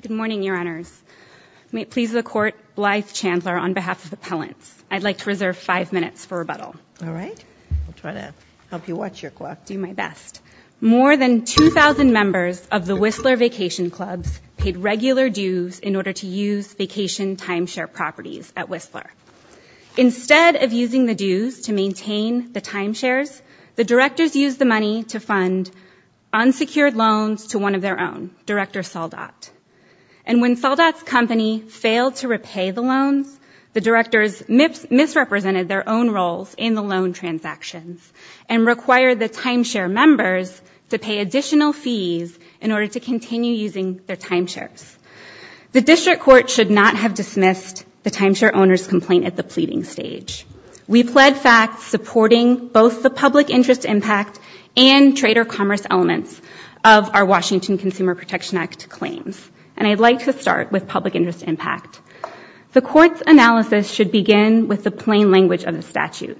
Good morning, Your Honors. May it please the Court, Blythe Chandler on behalf of Appellants, I'd like to reserve five minutes for rebuttal. All right. I'll try to help you watch your clock. Do my best. More than 2,000 members of the Whistler Vacation Clubs paid regular dues in order to use vacation timeshare properties at Whistler. Instead of using the dues to maintain the timeshares, the Directors used the money to repay the loans to one of their own, Director Saldat. And when Saldat's company failed to repay the loans, the Directors misrepresented their own roles in the loan transactions and required the timeshare members to pay additional fees in order to continue using their timeshares. The District Court should not have dismissed the timeshare owner's complaint at the pleading stage. We pled fact, supporting both the public interest impact and trader commerce elements of our Washington Consumer Protection Act claims. And I'd like to start with public interest impact. The Court's analysis should begin with the plain language of the statute.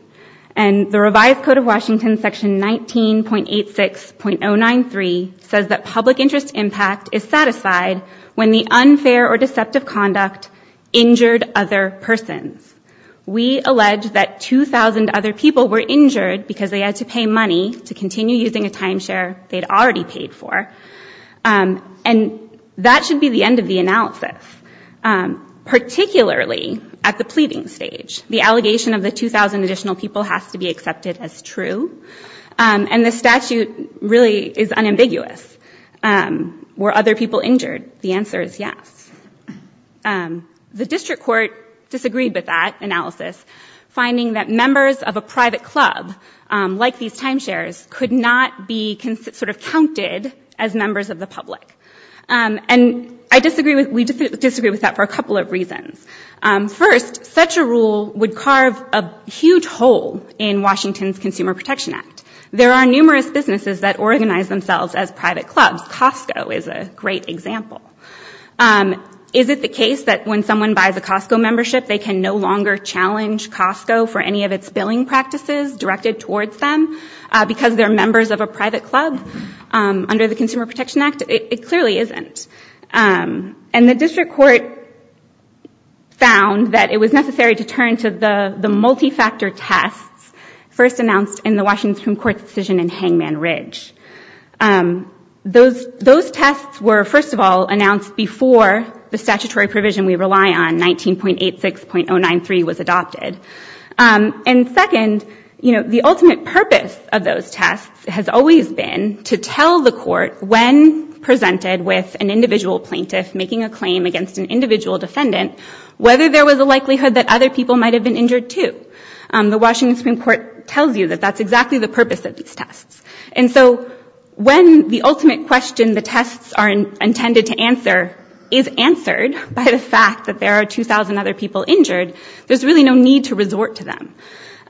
And the revised Code of Washington, Section 19.86.093, says that public interest impact is satisfied when the unfair or deceptive conduct injured other persons. We allege that 2,000 other people were injured because they had to pay money to continue using a timeshare they'd already paid for. And that should be the end of the analysis, particularly at the pleading stage. The allegation of the 2,000 additional people has to be accepted as true. And the statute really is unambiguous. Were other people injured? The answer is yes. The District Court disagreed with that analysis, finding that members of a private club, like these timeshares, could not be sort of counted as members of the public. And we disagreed with that for a couple of reasons. First, such a rule would carve a huge hole in Washington's Consumer Protection Act. There are numerous businesses that organize themselves as private clubs. Costco is a great example. Is it the case that when someone buys a Costco membership, they can no longer challenge Costco for any of its billing practices directed towards them because they're members of a private club under the Consumer Protection Act? It clearly isn't. And the District Court found that it was necessary to turn to the multi-factor tests first announced in the Washington Supreme Court's decision in Hangman Ridge. Those tests were, first of all, announced before the statutory provision we rely on, 19.86.093, was adopted. And second, you know, the ultimate purpose of those tests has always been to tell the court, when presented with an individual plaintiff making a claim against an individual defendant, whether there was a likelihood that other people might have been injured too. The Washington Supreme Court tells you that that's exactly the purpose of these tests. And so when the ultimate question the tests are intended to answer is answered by the fact that there are 2,000 other people injured, there's really no need to resort to them.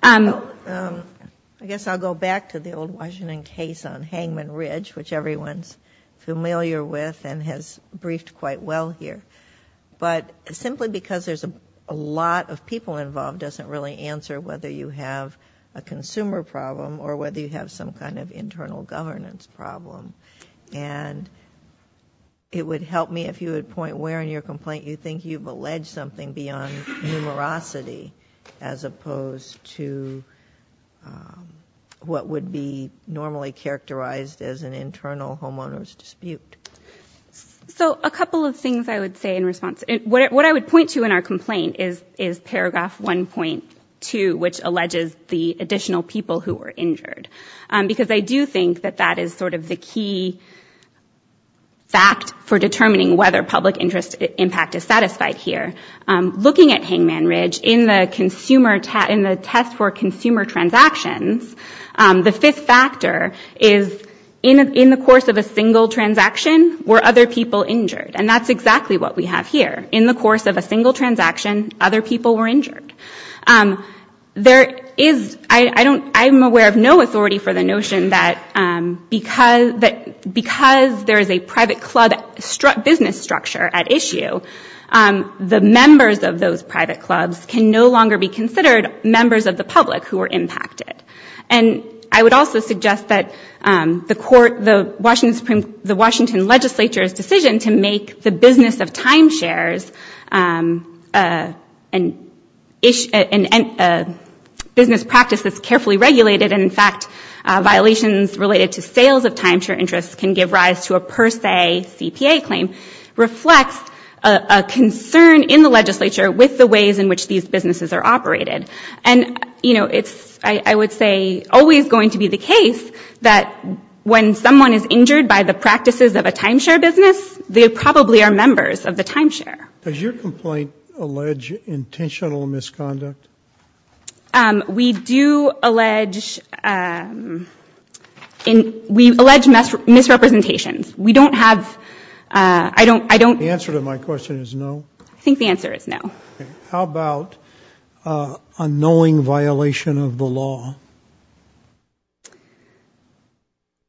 I guess I'll go back to the old Washington case on Hangman Ridge, which everyone's familiar with and has briefed quite well here. But simply because there's a lot of people involved doesn't really answer whether you have a consumer problem or whether you have some kind of internal governance problem. And it would help me if you would point where in your complaint you think you've alleged something beyond numerosity as opposed to what would be normally characterized as an internal homeowner's dispute. So a couple of things I would say in response. What I would point to in our complaint is paragraph 1.2, which alleges the additional people who were injured. Because I do think that that is sort of the key fact for determining whether public interest impact is satisfied here. Looking at Hangman Ridge, in the test for consumer transactions, the fifth factor is in the course of a single transaction were other people injured. And that's exactly what we have here. In the course of a single transaction, other people were injured. There is, I'm aware of no authority for the notion that because there is a private club business structure at issue, the members of those private clubs can no longer be considered members of the public who were impacted. And I would also suggest that the Washington legislature's decision to make the business of timeshares a business practice that's carefully regulated, and in fact violations related to sales of timeshare interests can give rise to a per se CPA claim, reflects a concern in the legislature with the ways in which these businesses are operated. And it's, I would say, always going to be the case that when someone is injured by the practices of a timeshare business, they probably are members of the timeshare. Does your complaint allege intentional misconduct? We do allege, we allege misrepresentations. We don't have, I don't The answer to my question is no. I think the answer is no. How about a knowing violation of the law?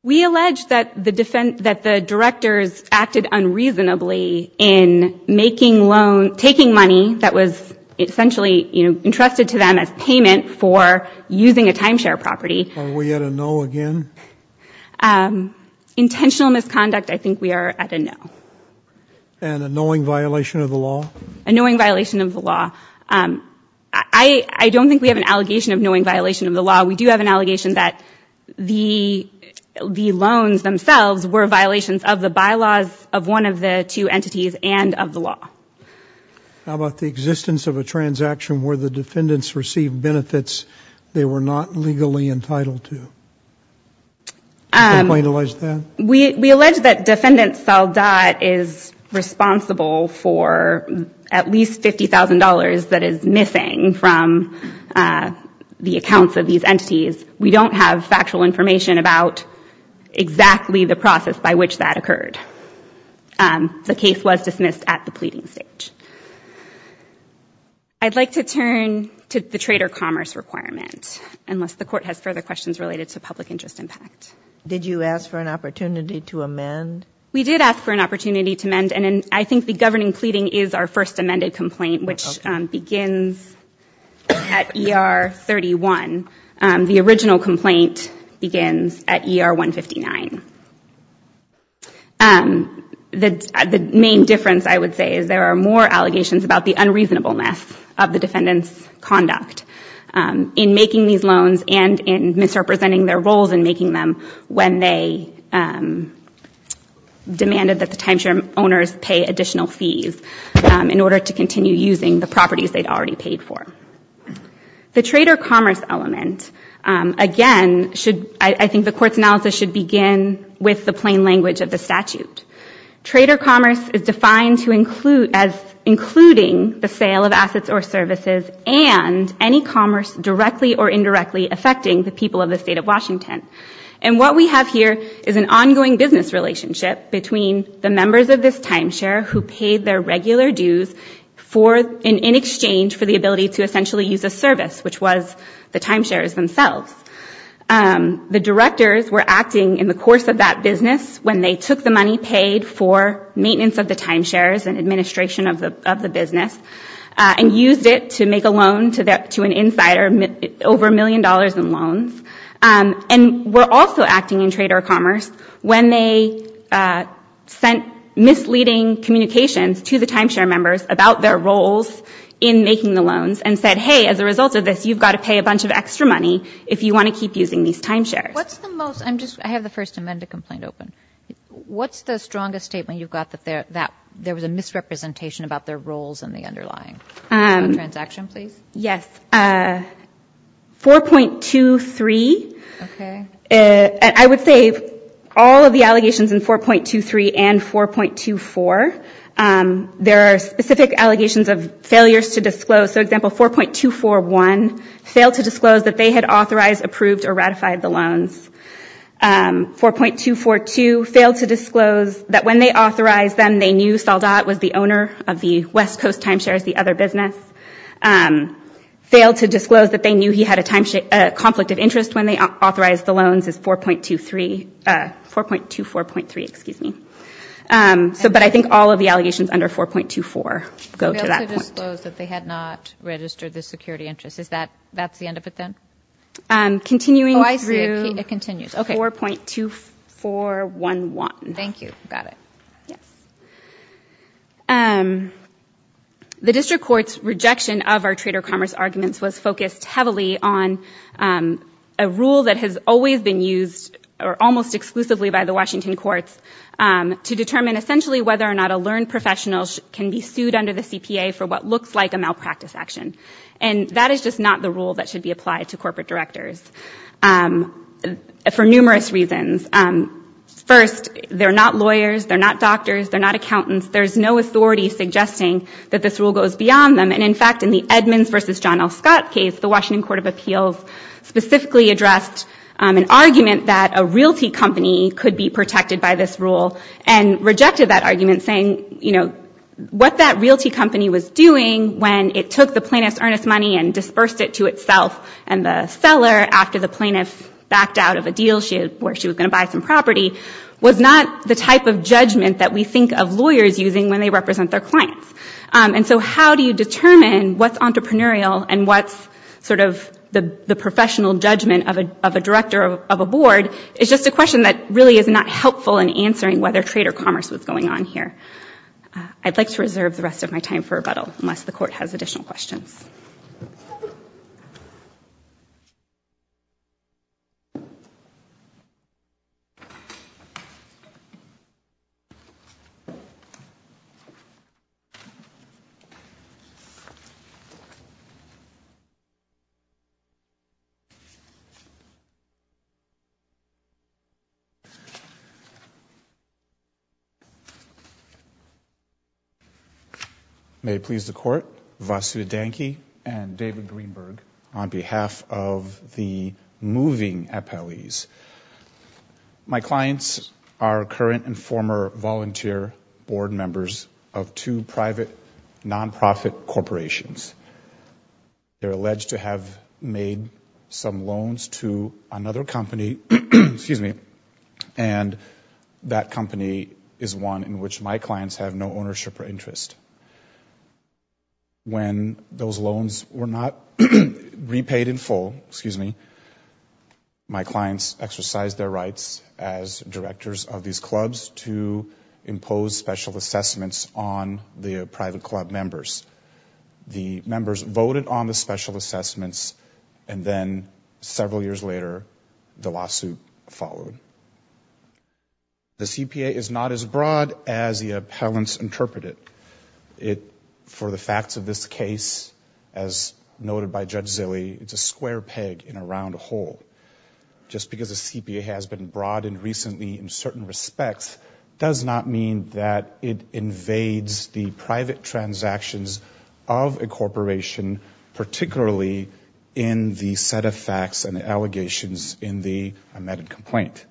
We allege that the directors acted unreasonably in making loans, taking money that was essentially entrusted to them as payment for using a timeshare property. Are we at a no again? Intentional misconduct, I think we are at a no. And a knowing violation of the law? A knowing violation of the law. I don't think we have an allegation of knowing violation of the law. We do have an allegation that the loans themselves were violations of the bylaws of one of the two entities and of the law. How about the existence of a transaction where the defendants received benefits they were not legally entitled to? Does your complaint allege that? We allege that defendant Saldat is responsible for at least $50,000 that is missing from the accounts of these entities. We don't have factual information about exactly the process by which that occurred. The case was dismissed at the pleading stage. I'd like to turn to the trader commerce requirement unless the court has further questions related to public interest impact. Did you ask for an opportunity to amend? We did ask for an opportunity to amend and I think the governing pleading is our first amended complaint which begins at ER 31. The original complaint begins at ER 159. The main difference I would say is there are more allegations about the unreasonableness of the defendant's conduct in making these loans and in misrepresenting their roles when they demanded that the timeshare owners pay additional fees in order to continue using the properties they'd already paid for. The trader commerce element, again, I think the court's analysis should begin with the plain language of the statute. Trader commerce is defined as including the sale of assets or services and any commerce directly or indirectly affecting the people of the state of Washington. And what we have here is an ongoing business relationship between the members of this timeshare who paid their regular dues in exchange for the ability to essentially use a service which was the timeshares themselves. The directors were acting in the course of that business when they took the money paid for maintenance of the timeshares and administration of the business and used it to make a loan to an insider over a million dollars in loans. And were also acting in trader commerce when they sent misleading communications to the timeshare members about their roles in making the loans and said, hey, as a result of this, you've got to pay a bunch of extra money if you want to keep using these timeshares. I have the first amendment complaint open. What's the strongest statement you've got that there was a misrepresentation about their roles in the underlying transaction, please? Yes, 4.23. I would say all of the allegations in 4.23 and 4.24. There are specific allegations of failures to disclose. For example, 4.241 failed to disclose that they had authorized, approved or ratified the loans. 4.242 failed to disclose that when they authorized them they knew Saldat was the owner of the West Coast Timeshares, the other business. Failed to disclose that they knew he had a conflict of interest when they authorized the loans is 4.23. 4.24.3, excuse me. But I think all of the allegations under 4.24 go to that point. Failed to disclose that they had not registered the security interest. That's the end of it then? Continuing through 4.2411. Thank you, got it. Yes. The district court's rejection of our trader commerce arguments was focused heavily on a rule that has always been used or almost exclusively by the Washington courts to determine essentially whether or not a learned professional can be sued under the CPA for what looks like a malpractice action. And that is just not the rule that should be applied to corporate directors for numerous reasons. First, they're not lawyers, they're not doctors, they're not accountants. There's no authority suggesting that this rule goes beyond them. And in fact, in the Edmonds versus John L. Scott case, the Washington Court of Appeals specifically addressed an argument that a realty company could be protected by this rule and rejected that argument saying, you know, what that realty company was doing when it took the plaintiff's earnest money and dispersed it to itself and the seller, after the plaintiff backed out of a deal where she was going to buy some property, was not the type of judgment that we think of lawyers using when they represent their clients. And so how do you determine what's entrepreneurial and what's sort of the professional judgment of a director of a board is just a question that really is not helpful in answering whether trader commerce was going on here. I'd like to reserve the rest of my time for rebuttal unless the court has additional questions. Thank you. May it please the Court, Vasu Danki and David Greenberg, on behalf of the moving appellees. My clients are current and former volunteer board members of two private nonprofit corporations. They're alleged to have made some loans to another company, and that company is one in which my clients have no ownership or interest. My clients exercised their rights as directors of these clubs to impose special assessments on the private club members. The members voted on the special assessments, and then several years later the lawsuit followed. The CPA is not as broad as the appellants interpret it. For the facts of this case, as noted by Judge Zille, it's a square peg in a round hole. Just because a CPA has been broadened recently in certain respects does not mean that it invades the private transactions of a corporation, particularly in the set of facts and allegations in the amended complaint.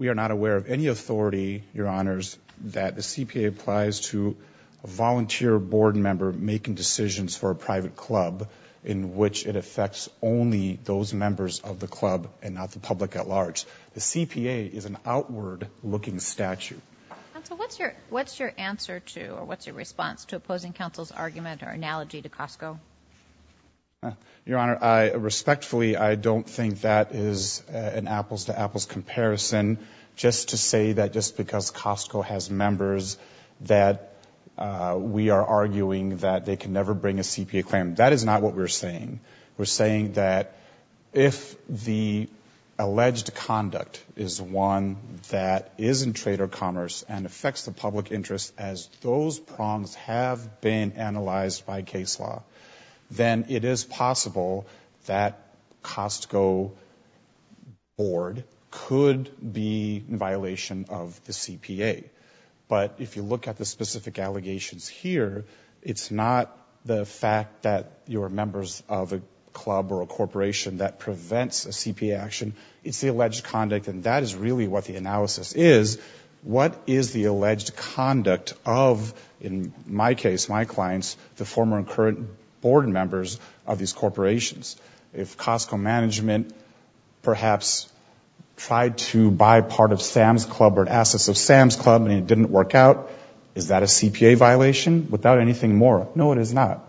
We are not aware of any authority, Your Honors, that the CPA applies to a volunteer board member making decisions for a private club in which it affects only those members of the club and not the public at large. The CPA is an outward-looking statute. Counsel, what's your answer to, or what's your response to opposing counsel's argument or analogy to Costco? Your Honor, respectfully, I don't think that is an apples-to-apples comparison. Just to say that just because Costco has members that we are arguing that they can never bring a CPA claim, that is not what we're saying. We're saying that if the alleged conduct is one that is in trade or commerce and affects the public interest as those prongs have been analyzed by case law, then it is possible that Costco board could be in violation of the CPA. But if you look at the specific allegations here, it's not the fact that you're members of a club or a corporation that prevents a CPA action. It's the alleged conduct, and that is really what the analysis is. What is the alleged conduct of, in my case, my clients, the former and current board members of these corporations? If Costco management perhaps tried to buy part of Sam's Club or assets of Sam's Club and it didn't work out, is that a CPA violation without anything more? No, it is not.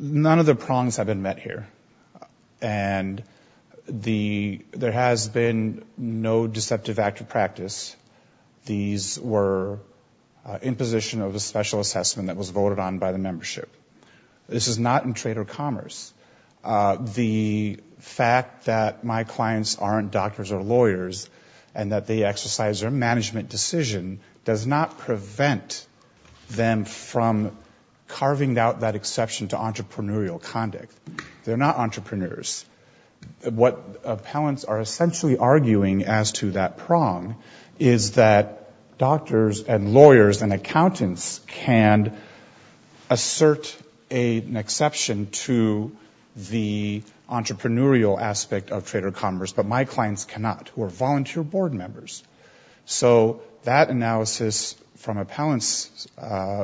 None of the prongs have been met here, and there has been no deceptive act of practice. These were in position of a special assessment that was voted on by the membership. This is not in trade or commerce. The fact that my clients aren't doctors or lawyers and that they exercise their management decision does not prevent them from carving out that exception to entrepreneurial conduct. They're not entrepreneurs. What appellants are essentially arguing as to that prong is that doctors and lawyers and accountants can assert an exception to the entrepreneurial aspect of trade or commerce, but my clients cannot, who are volunteer board members. So that analysis from appellant's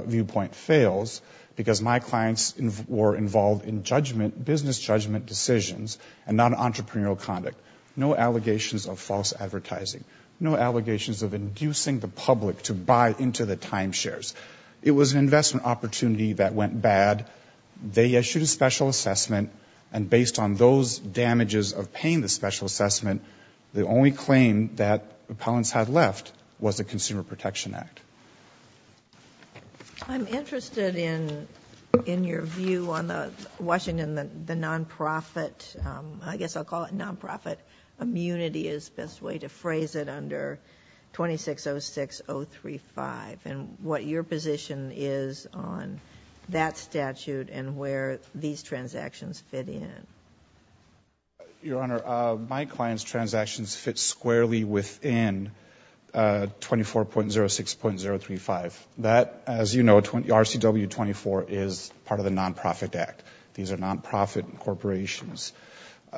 viewpoint fails because my clients were involved in business judgment decisions and not entrepreneurial conduct. No allegations of false advertising. No allegations of inducing the public to buy into the timeshares. It was an investment opportunity that went bad. They issued a special assessment, and based on those damages of paying the special assessment, the only claim that appellants had left was the Consumer Protection Act. I'm interested in your view on the Washington, the nonprofit, I guess I'll call it nonprofit immunity is the best way to phrase it, under 2606035, and what your position is on that statute and where these transactions fit in. Your Honor, my client's transactions fit squarely within 24.06.035. That, as you know, RCW 24 is part of the Nonprofit Act. These are nonprofit corporations.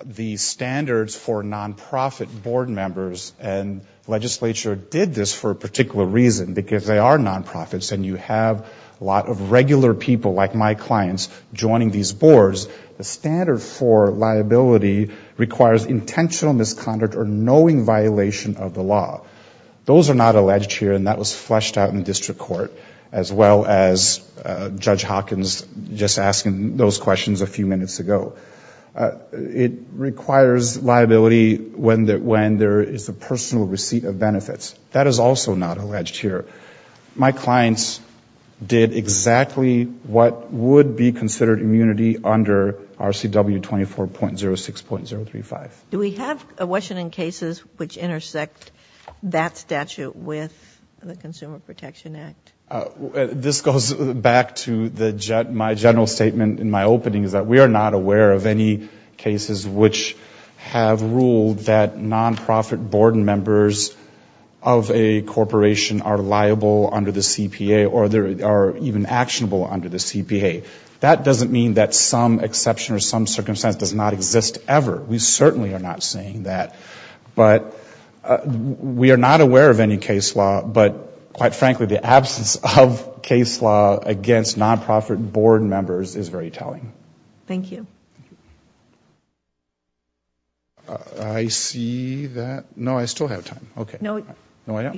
The standards for nonprofit board members, and legislature did this for a particular reason, because they are nonprofits, and you have a lot of regular people like my clients joining these boards. The standard for liability requires intentional misconduct or knowing violation of the law. Those are not alleged here, and that was fleshed out in district court, as well as Judge Hawkins just asking those questions a few minutes ago. It requires liability when there is a personal receipt of benefits. That is also not alleged here. My clients did exactly what would be considered immunity under RCW 24.06.035. Do we have a question in cases which intersect that statute with the Consumer Protection Act? This goes back to my general statement in my opening, is that we are not aware of any cases which have ruled that nonprofit board members of a corporation are liable under the CPA or are even actionable under the CPA. That doesn't mean that some exception or some circumstance does not exist ever. We certainly are not saying that. But we are not aware of any case law, but quite frankly the absence of case law against nonprofit board members is very telling. Thank you. I see that. No, I still have time. Okay. No, you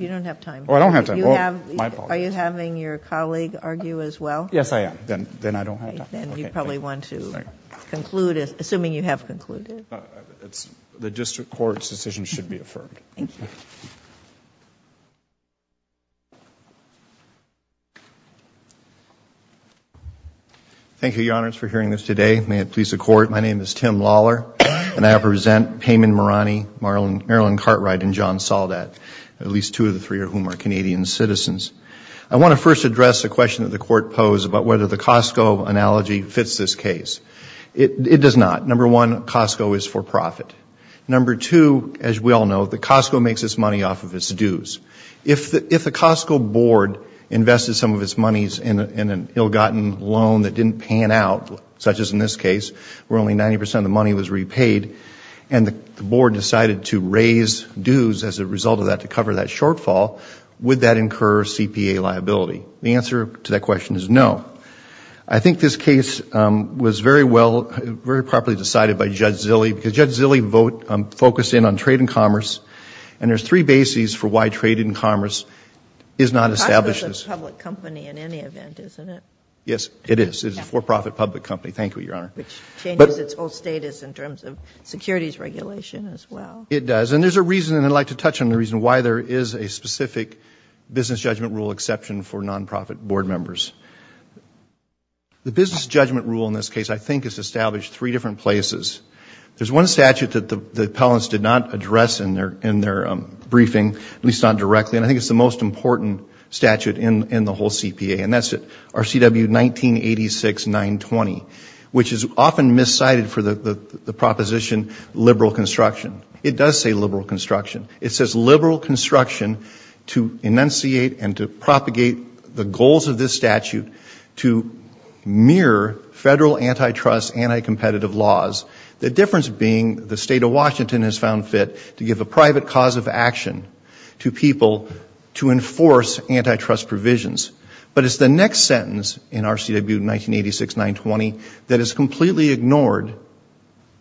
don't have time. Oh, I don't have time. Are you having your colleague argue as well? Yes, I am. Then I don't have time. Then you probably want to conclude, assuming you have concluded. The district court's decision should be affirmed. Thank you. Thank you, Your Honors, for hearing this today. May it please the Court. My name is Tim Lawler, and I represent Payman Marani, Marilyn Cartwright, and John Soldat, at least two of the three of whom are Canadian citizens. I want to first address a question that the Court posed about whether the Costco analogy fits this case. It does not. Number one, Costco is for profit. Number two, as we all know, that Costco makes its money off of its dues. If the Costco board invested some of its monies in an ill-gotten loan that didn't pan out, such as in this case where only 90 percent of the money was repaid, and the board decided to raise dues as a result of that to cover that shortfall, would that incur CPA liability? The answer to that question is no. I think this case was very well, very properly decided by Judge Zille, because Judge Zille focused in on trade and commerce, and there's three bases for why trade and commerce is not established. Costco is a public company in any event, isn't it? Yes, it is. It is a for-profit public company. Thank you, Your Honor. Which changes its whole status in terms of securities regulation as well. It does. And there's a reason, and I'd like to touch on the reason, why there is a specific business judgment rule exception for non-profit board members. The business judgment rule in this case I think is established three different places. There's one statute that the appellants did not address in their briefing, at least not directly, and I think it's the most important statute in the whole CPA, and that's RCW 1986-920, which is often miscited for the proposition liberal construction. It does say liberal construction. It says liberal construction to enunciate and to propagate the goals of this statute to mirror federal antitrust, anti-competitive laws, the difference being the state of Washington has found fit to give a private cause of action to people to enforce antitrust provisions. But it's the next sentence in RCW 1986-920 that is completely ignored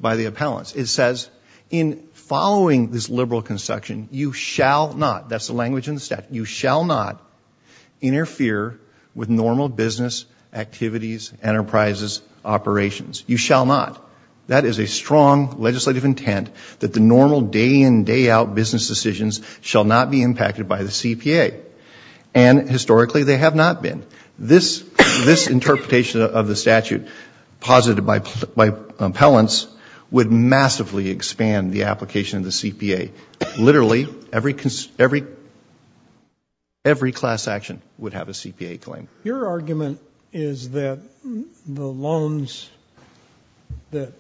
by the appellants. It says, in following this liberal construction, you shall not, that's the language in the statute, you shall not interfere with normal business activities, enterprises, operations. You shall not. That is a strong legislative intent that the normal day-in, day-out business decisions shall not be impacted by the CPA, and historically they have not been. This interpretation of the statute posited by appellants would massively expand the application of the CPA. Literally every class action would have a CPA claim. Your argument is that the loans that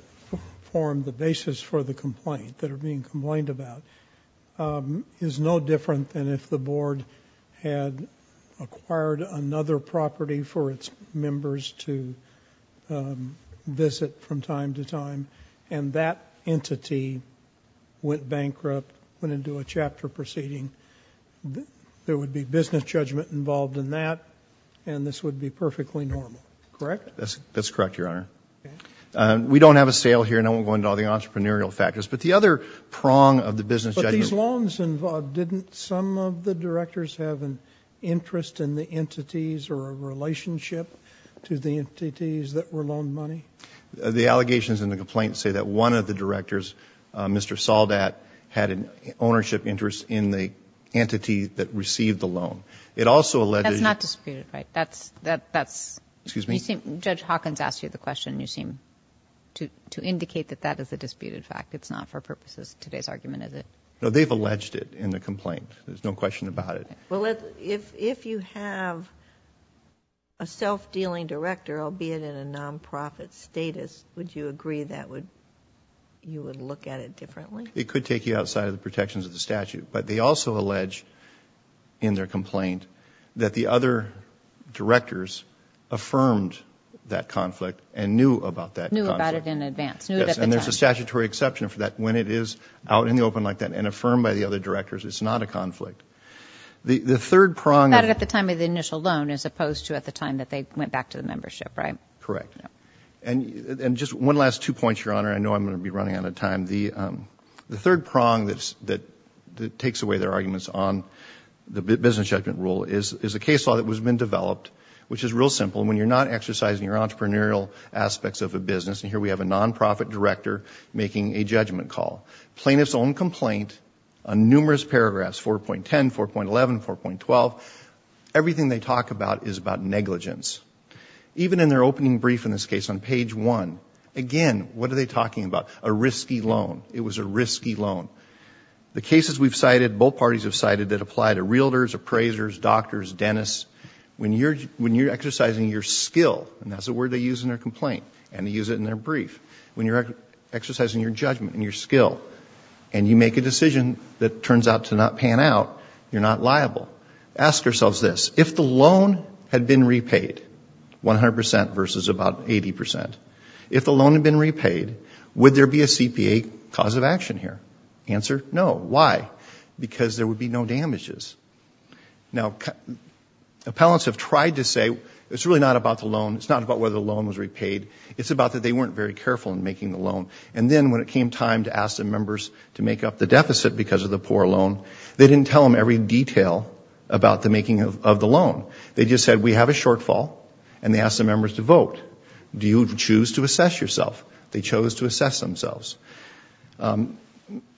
form the basis for the complaint, that are being complained about, is no different than if the board had acquired another property for its members to visit from time to time and that entity went bankrupt, went into a chapter proceeding. There would be business judgment involved in that, and this would be perfectly normal, correct? That's correct, Your Honor. We don't have a sale here, and I won't go into all the entrepreneurial factors, but the other prong of the business judgment... But these loans involved, didn't some of the directors have an interest in the entities or a relationship to the entities that were loaned money? The allegations in the complaint say that one of the directors, Mr. Soldat, had an ownership interest in the entity that received the loan. It also alleged... That's... Excuse me? Judge Hawkins asked you the question, and you seem to indicate that that is a disputed fact. It's not for purposes of today's argument, is it? No, they've alleged it in the complaint. There's no question about it. Well, if you have a self-dealing director, albeit in a non-profit status, would you agree that you would look at it differently? It could take you outside of the protections of the statute, but they also allege in their complaint that the other directors affirmed that conflict and knew about that conflict. Knew about it in advance. Yes, and there's a statutory exception for that. When it is out in the open like that and affirmed by the other directors, it's not a conflict. The third prong... About it at the time of the initial loan as opposed to at the time that they went back to the membership, right? Correct. And just one last two points, Your Honor. I know I'm going to be running out of time. The third prong that takes away their arguments on the business judgment rule is a case law that has been developed, which is real simple. When you're not exercising your entrepreneurial aspects of a business, and here we have a non-profit director making a judgment call, plaintiff's own complaint on numerous paragraphs, 4.10, 4.11, 4.12, everything they talk about is about negligence. Even in their opening brief in this case on page one, again, what are they talking about? A risky loan. It was a risky loan. The cases we've cited, both parties have cited, that apply to realtors, appraisers, doctors, dentists, when you're exercising your skill, and that's the word they use in their complaint, and they use it in their brief, when you're exercising your judgment and your skill, and you make a decision that turns out to not pan out, you're not liable. Ask ourselves this. If the loan had been repaid, 100% versus about 80%, if the loan had been repaid, would there be a CPA cause of action here? Answer, no. Why? Because there would be no damages. Now, appellants have tried to say it's really not about the loan, it's not about whether the loan was repaid, it's about that they weren't very careful in making the loan, and then when it came time to ask the members to make up the deficit because of the poor loan, they didn't tell them every detail about the making of the loan. They just said, we have a shortfall, and they asked the members to vote. Do you choose to assess yourself? They chose to assess themselves.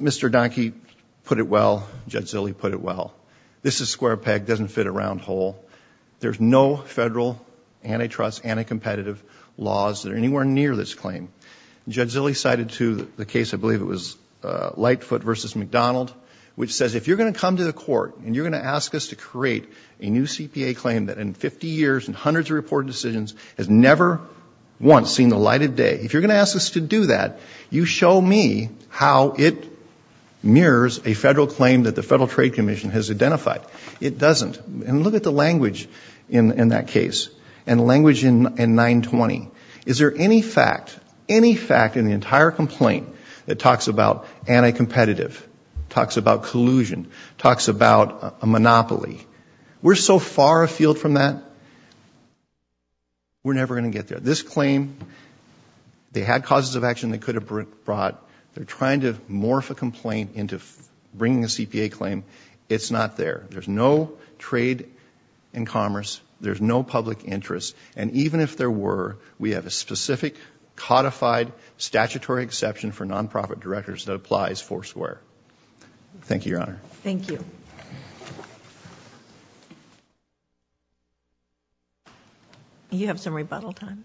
Mr. Donkey put it well. Judge Zille put it well. This is square peg. It doesn't fit a round hole. There's no federal antitrust, anticompetitive laws that are anywhere near this claim. Judge Zille cited, too, the case, I believe it was Lightfoot versus McDonald, which says if you're going to come to the court and you're going to ask us to create a new CPA claim that in 50 years and hundreds of reported decisions has never once seen the light of day, if you're going to ask us to do that, you show me how it mirrors a federal claim that the Federal Trade Commission has identified. It doesn't. And look at the language in that case and language in 920. Is there any fact, any fact in the entire complaint that talks about anticompetitive, talks about collusion, talks about a monopoly? We're so far afield from that, we're never going to get there. This claim, they had causes of action they could have brought. They're trying to morph a complaint into bringing a CPA claim. It's not there. There's no trade and commerce. There's no public interest. And even if there were, we have a specific codified statutory exception for nonprofit directors that applies foursquare. Thank you, Your Honor. Thank you. You have some rebuttal time.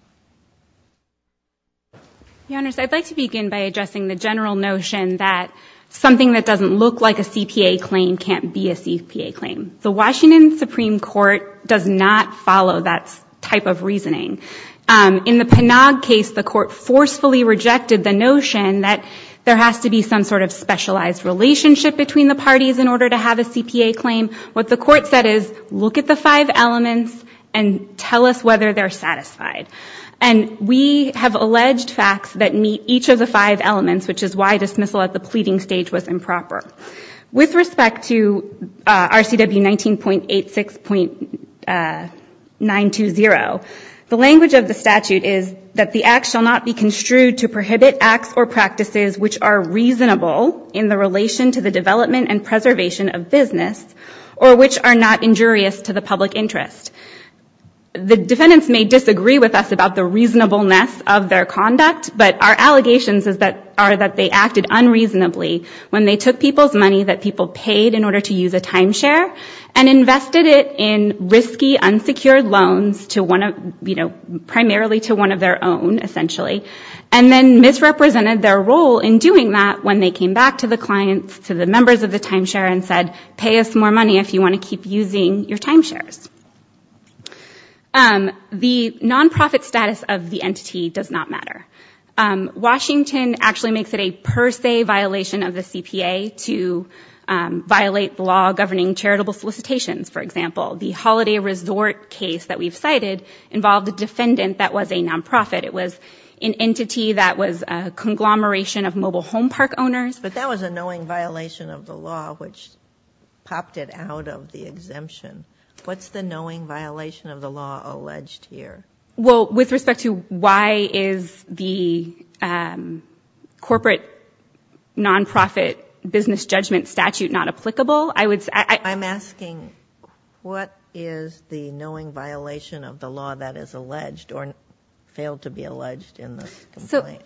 Your Honors, I'd like to begin by addressing the general notion that something that doesn't look like a CPA claim can't be a CPA claim. The Washington Supreme Court does not follow that type of reasoning. In the Panag case, the court forcefully rejected the notion that there has to be some sort of specialized relationship between the parties in order to have a CPA claim. What the court said is, look at the five elements and tell us whether they're satisfied. And we have alleged facts that meet each of the five elements, which is why dismissal at the pleading stage was improper. With respect to RCW 19.86.920, the language of the statute is that the act shall not be construed to prohibit acts or practices which are reasonable in the relation to the development and preservation of business or which are not injurious to the public interest. The defendants may disagree with us about the reasonableness of their conduct, but our allegations are that they acted unreasonably when they took people's money that people paid in order to use a timeshare and invested it in risky, unsecured loans primarily to one of their own, essentially. And then misrepresented their role in doing that when they came back to the clients, to the members of the timeshare and said, pay us more money if you want to keep using your timeshares. The nonprofit status of the entity does not matter. Washington actually makes it a per se violation of the CPA to violate the law governing charitable solicitations, for example. The Holiday Resort case that we've cited involved a defendant that was a nonprofit. It was an entity that was a conglomeration of mobile home park owners. But that was a knowing violation of the law, which popped it out of the exemption. What's the knowing violation of the law alleged here? Well, with respect to why is the corporate nonprofit business judgment statute not applicable? I'm asking, what is the knowing violation of the law that is alleged or failed to be alleged in this complaint?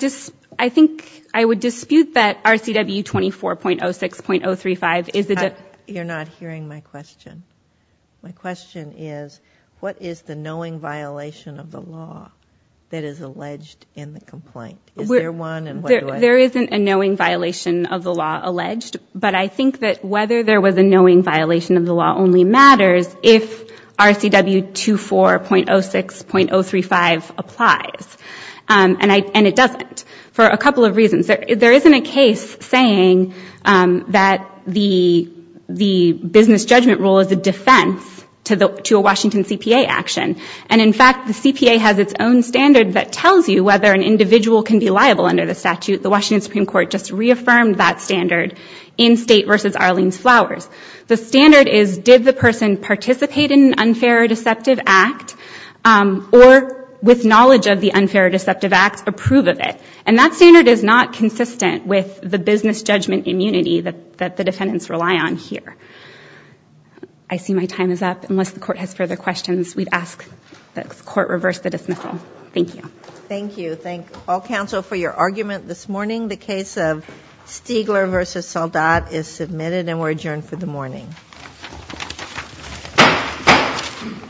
So I think I would dispute that RCW 24.06.035 is the- You're not hearing my question. My question is, what is the knowing violation of the law that is alleged in the complaint? Is there one and what do I- There isn't a knowing violation of the law alleged. But I think that whether there was a knowing violation of the law only matters if RCW 24.06.035 applies. And it doesn't for a couple of reasons. There isn't a case saying that the business judgment rule is a defense to a Washington CPA action. And, in fact, the CPA has its own standard that tells you whether an individual can be liable under the statute. The Washington Supreme Court just reaffirmed that standard in State v. Arlene's Flowers. The standard is, did the person participate in an unfair or deceptive act or, with knowledge of the unfair or deceptive act, approve of it? And that standard is not consistent with the business judgment immunity that the defendants rely on here. I see my time is up. Unless the court has further questions, we'd ask that the court reverse the dismissal. Thank you. Thank you. Thank all counsel for your argument this morning. The case of Stiegler v. Soldat is submitted and we're adjourned for the morning.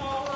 All rise.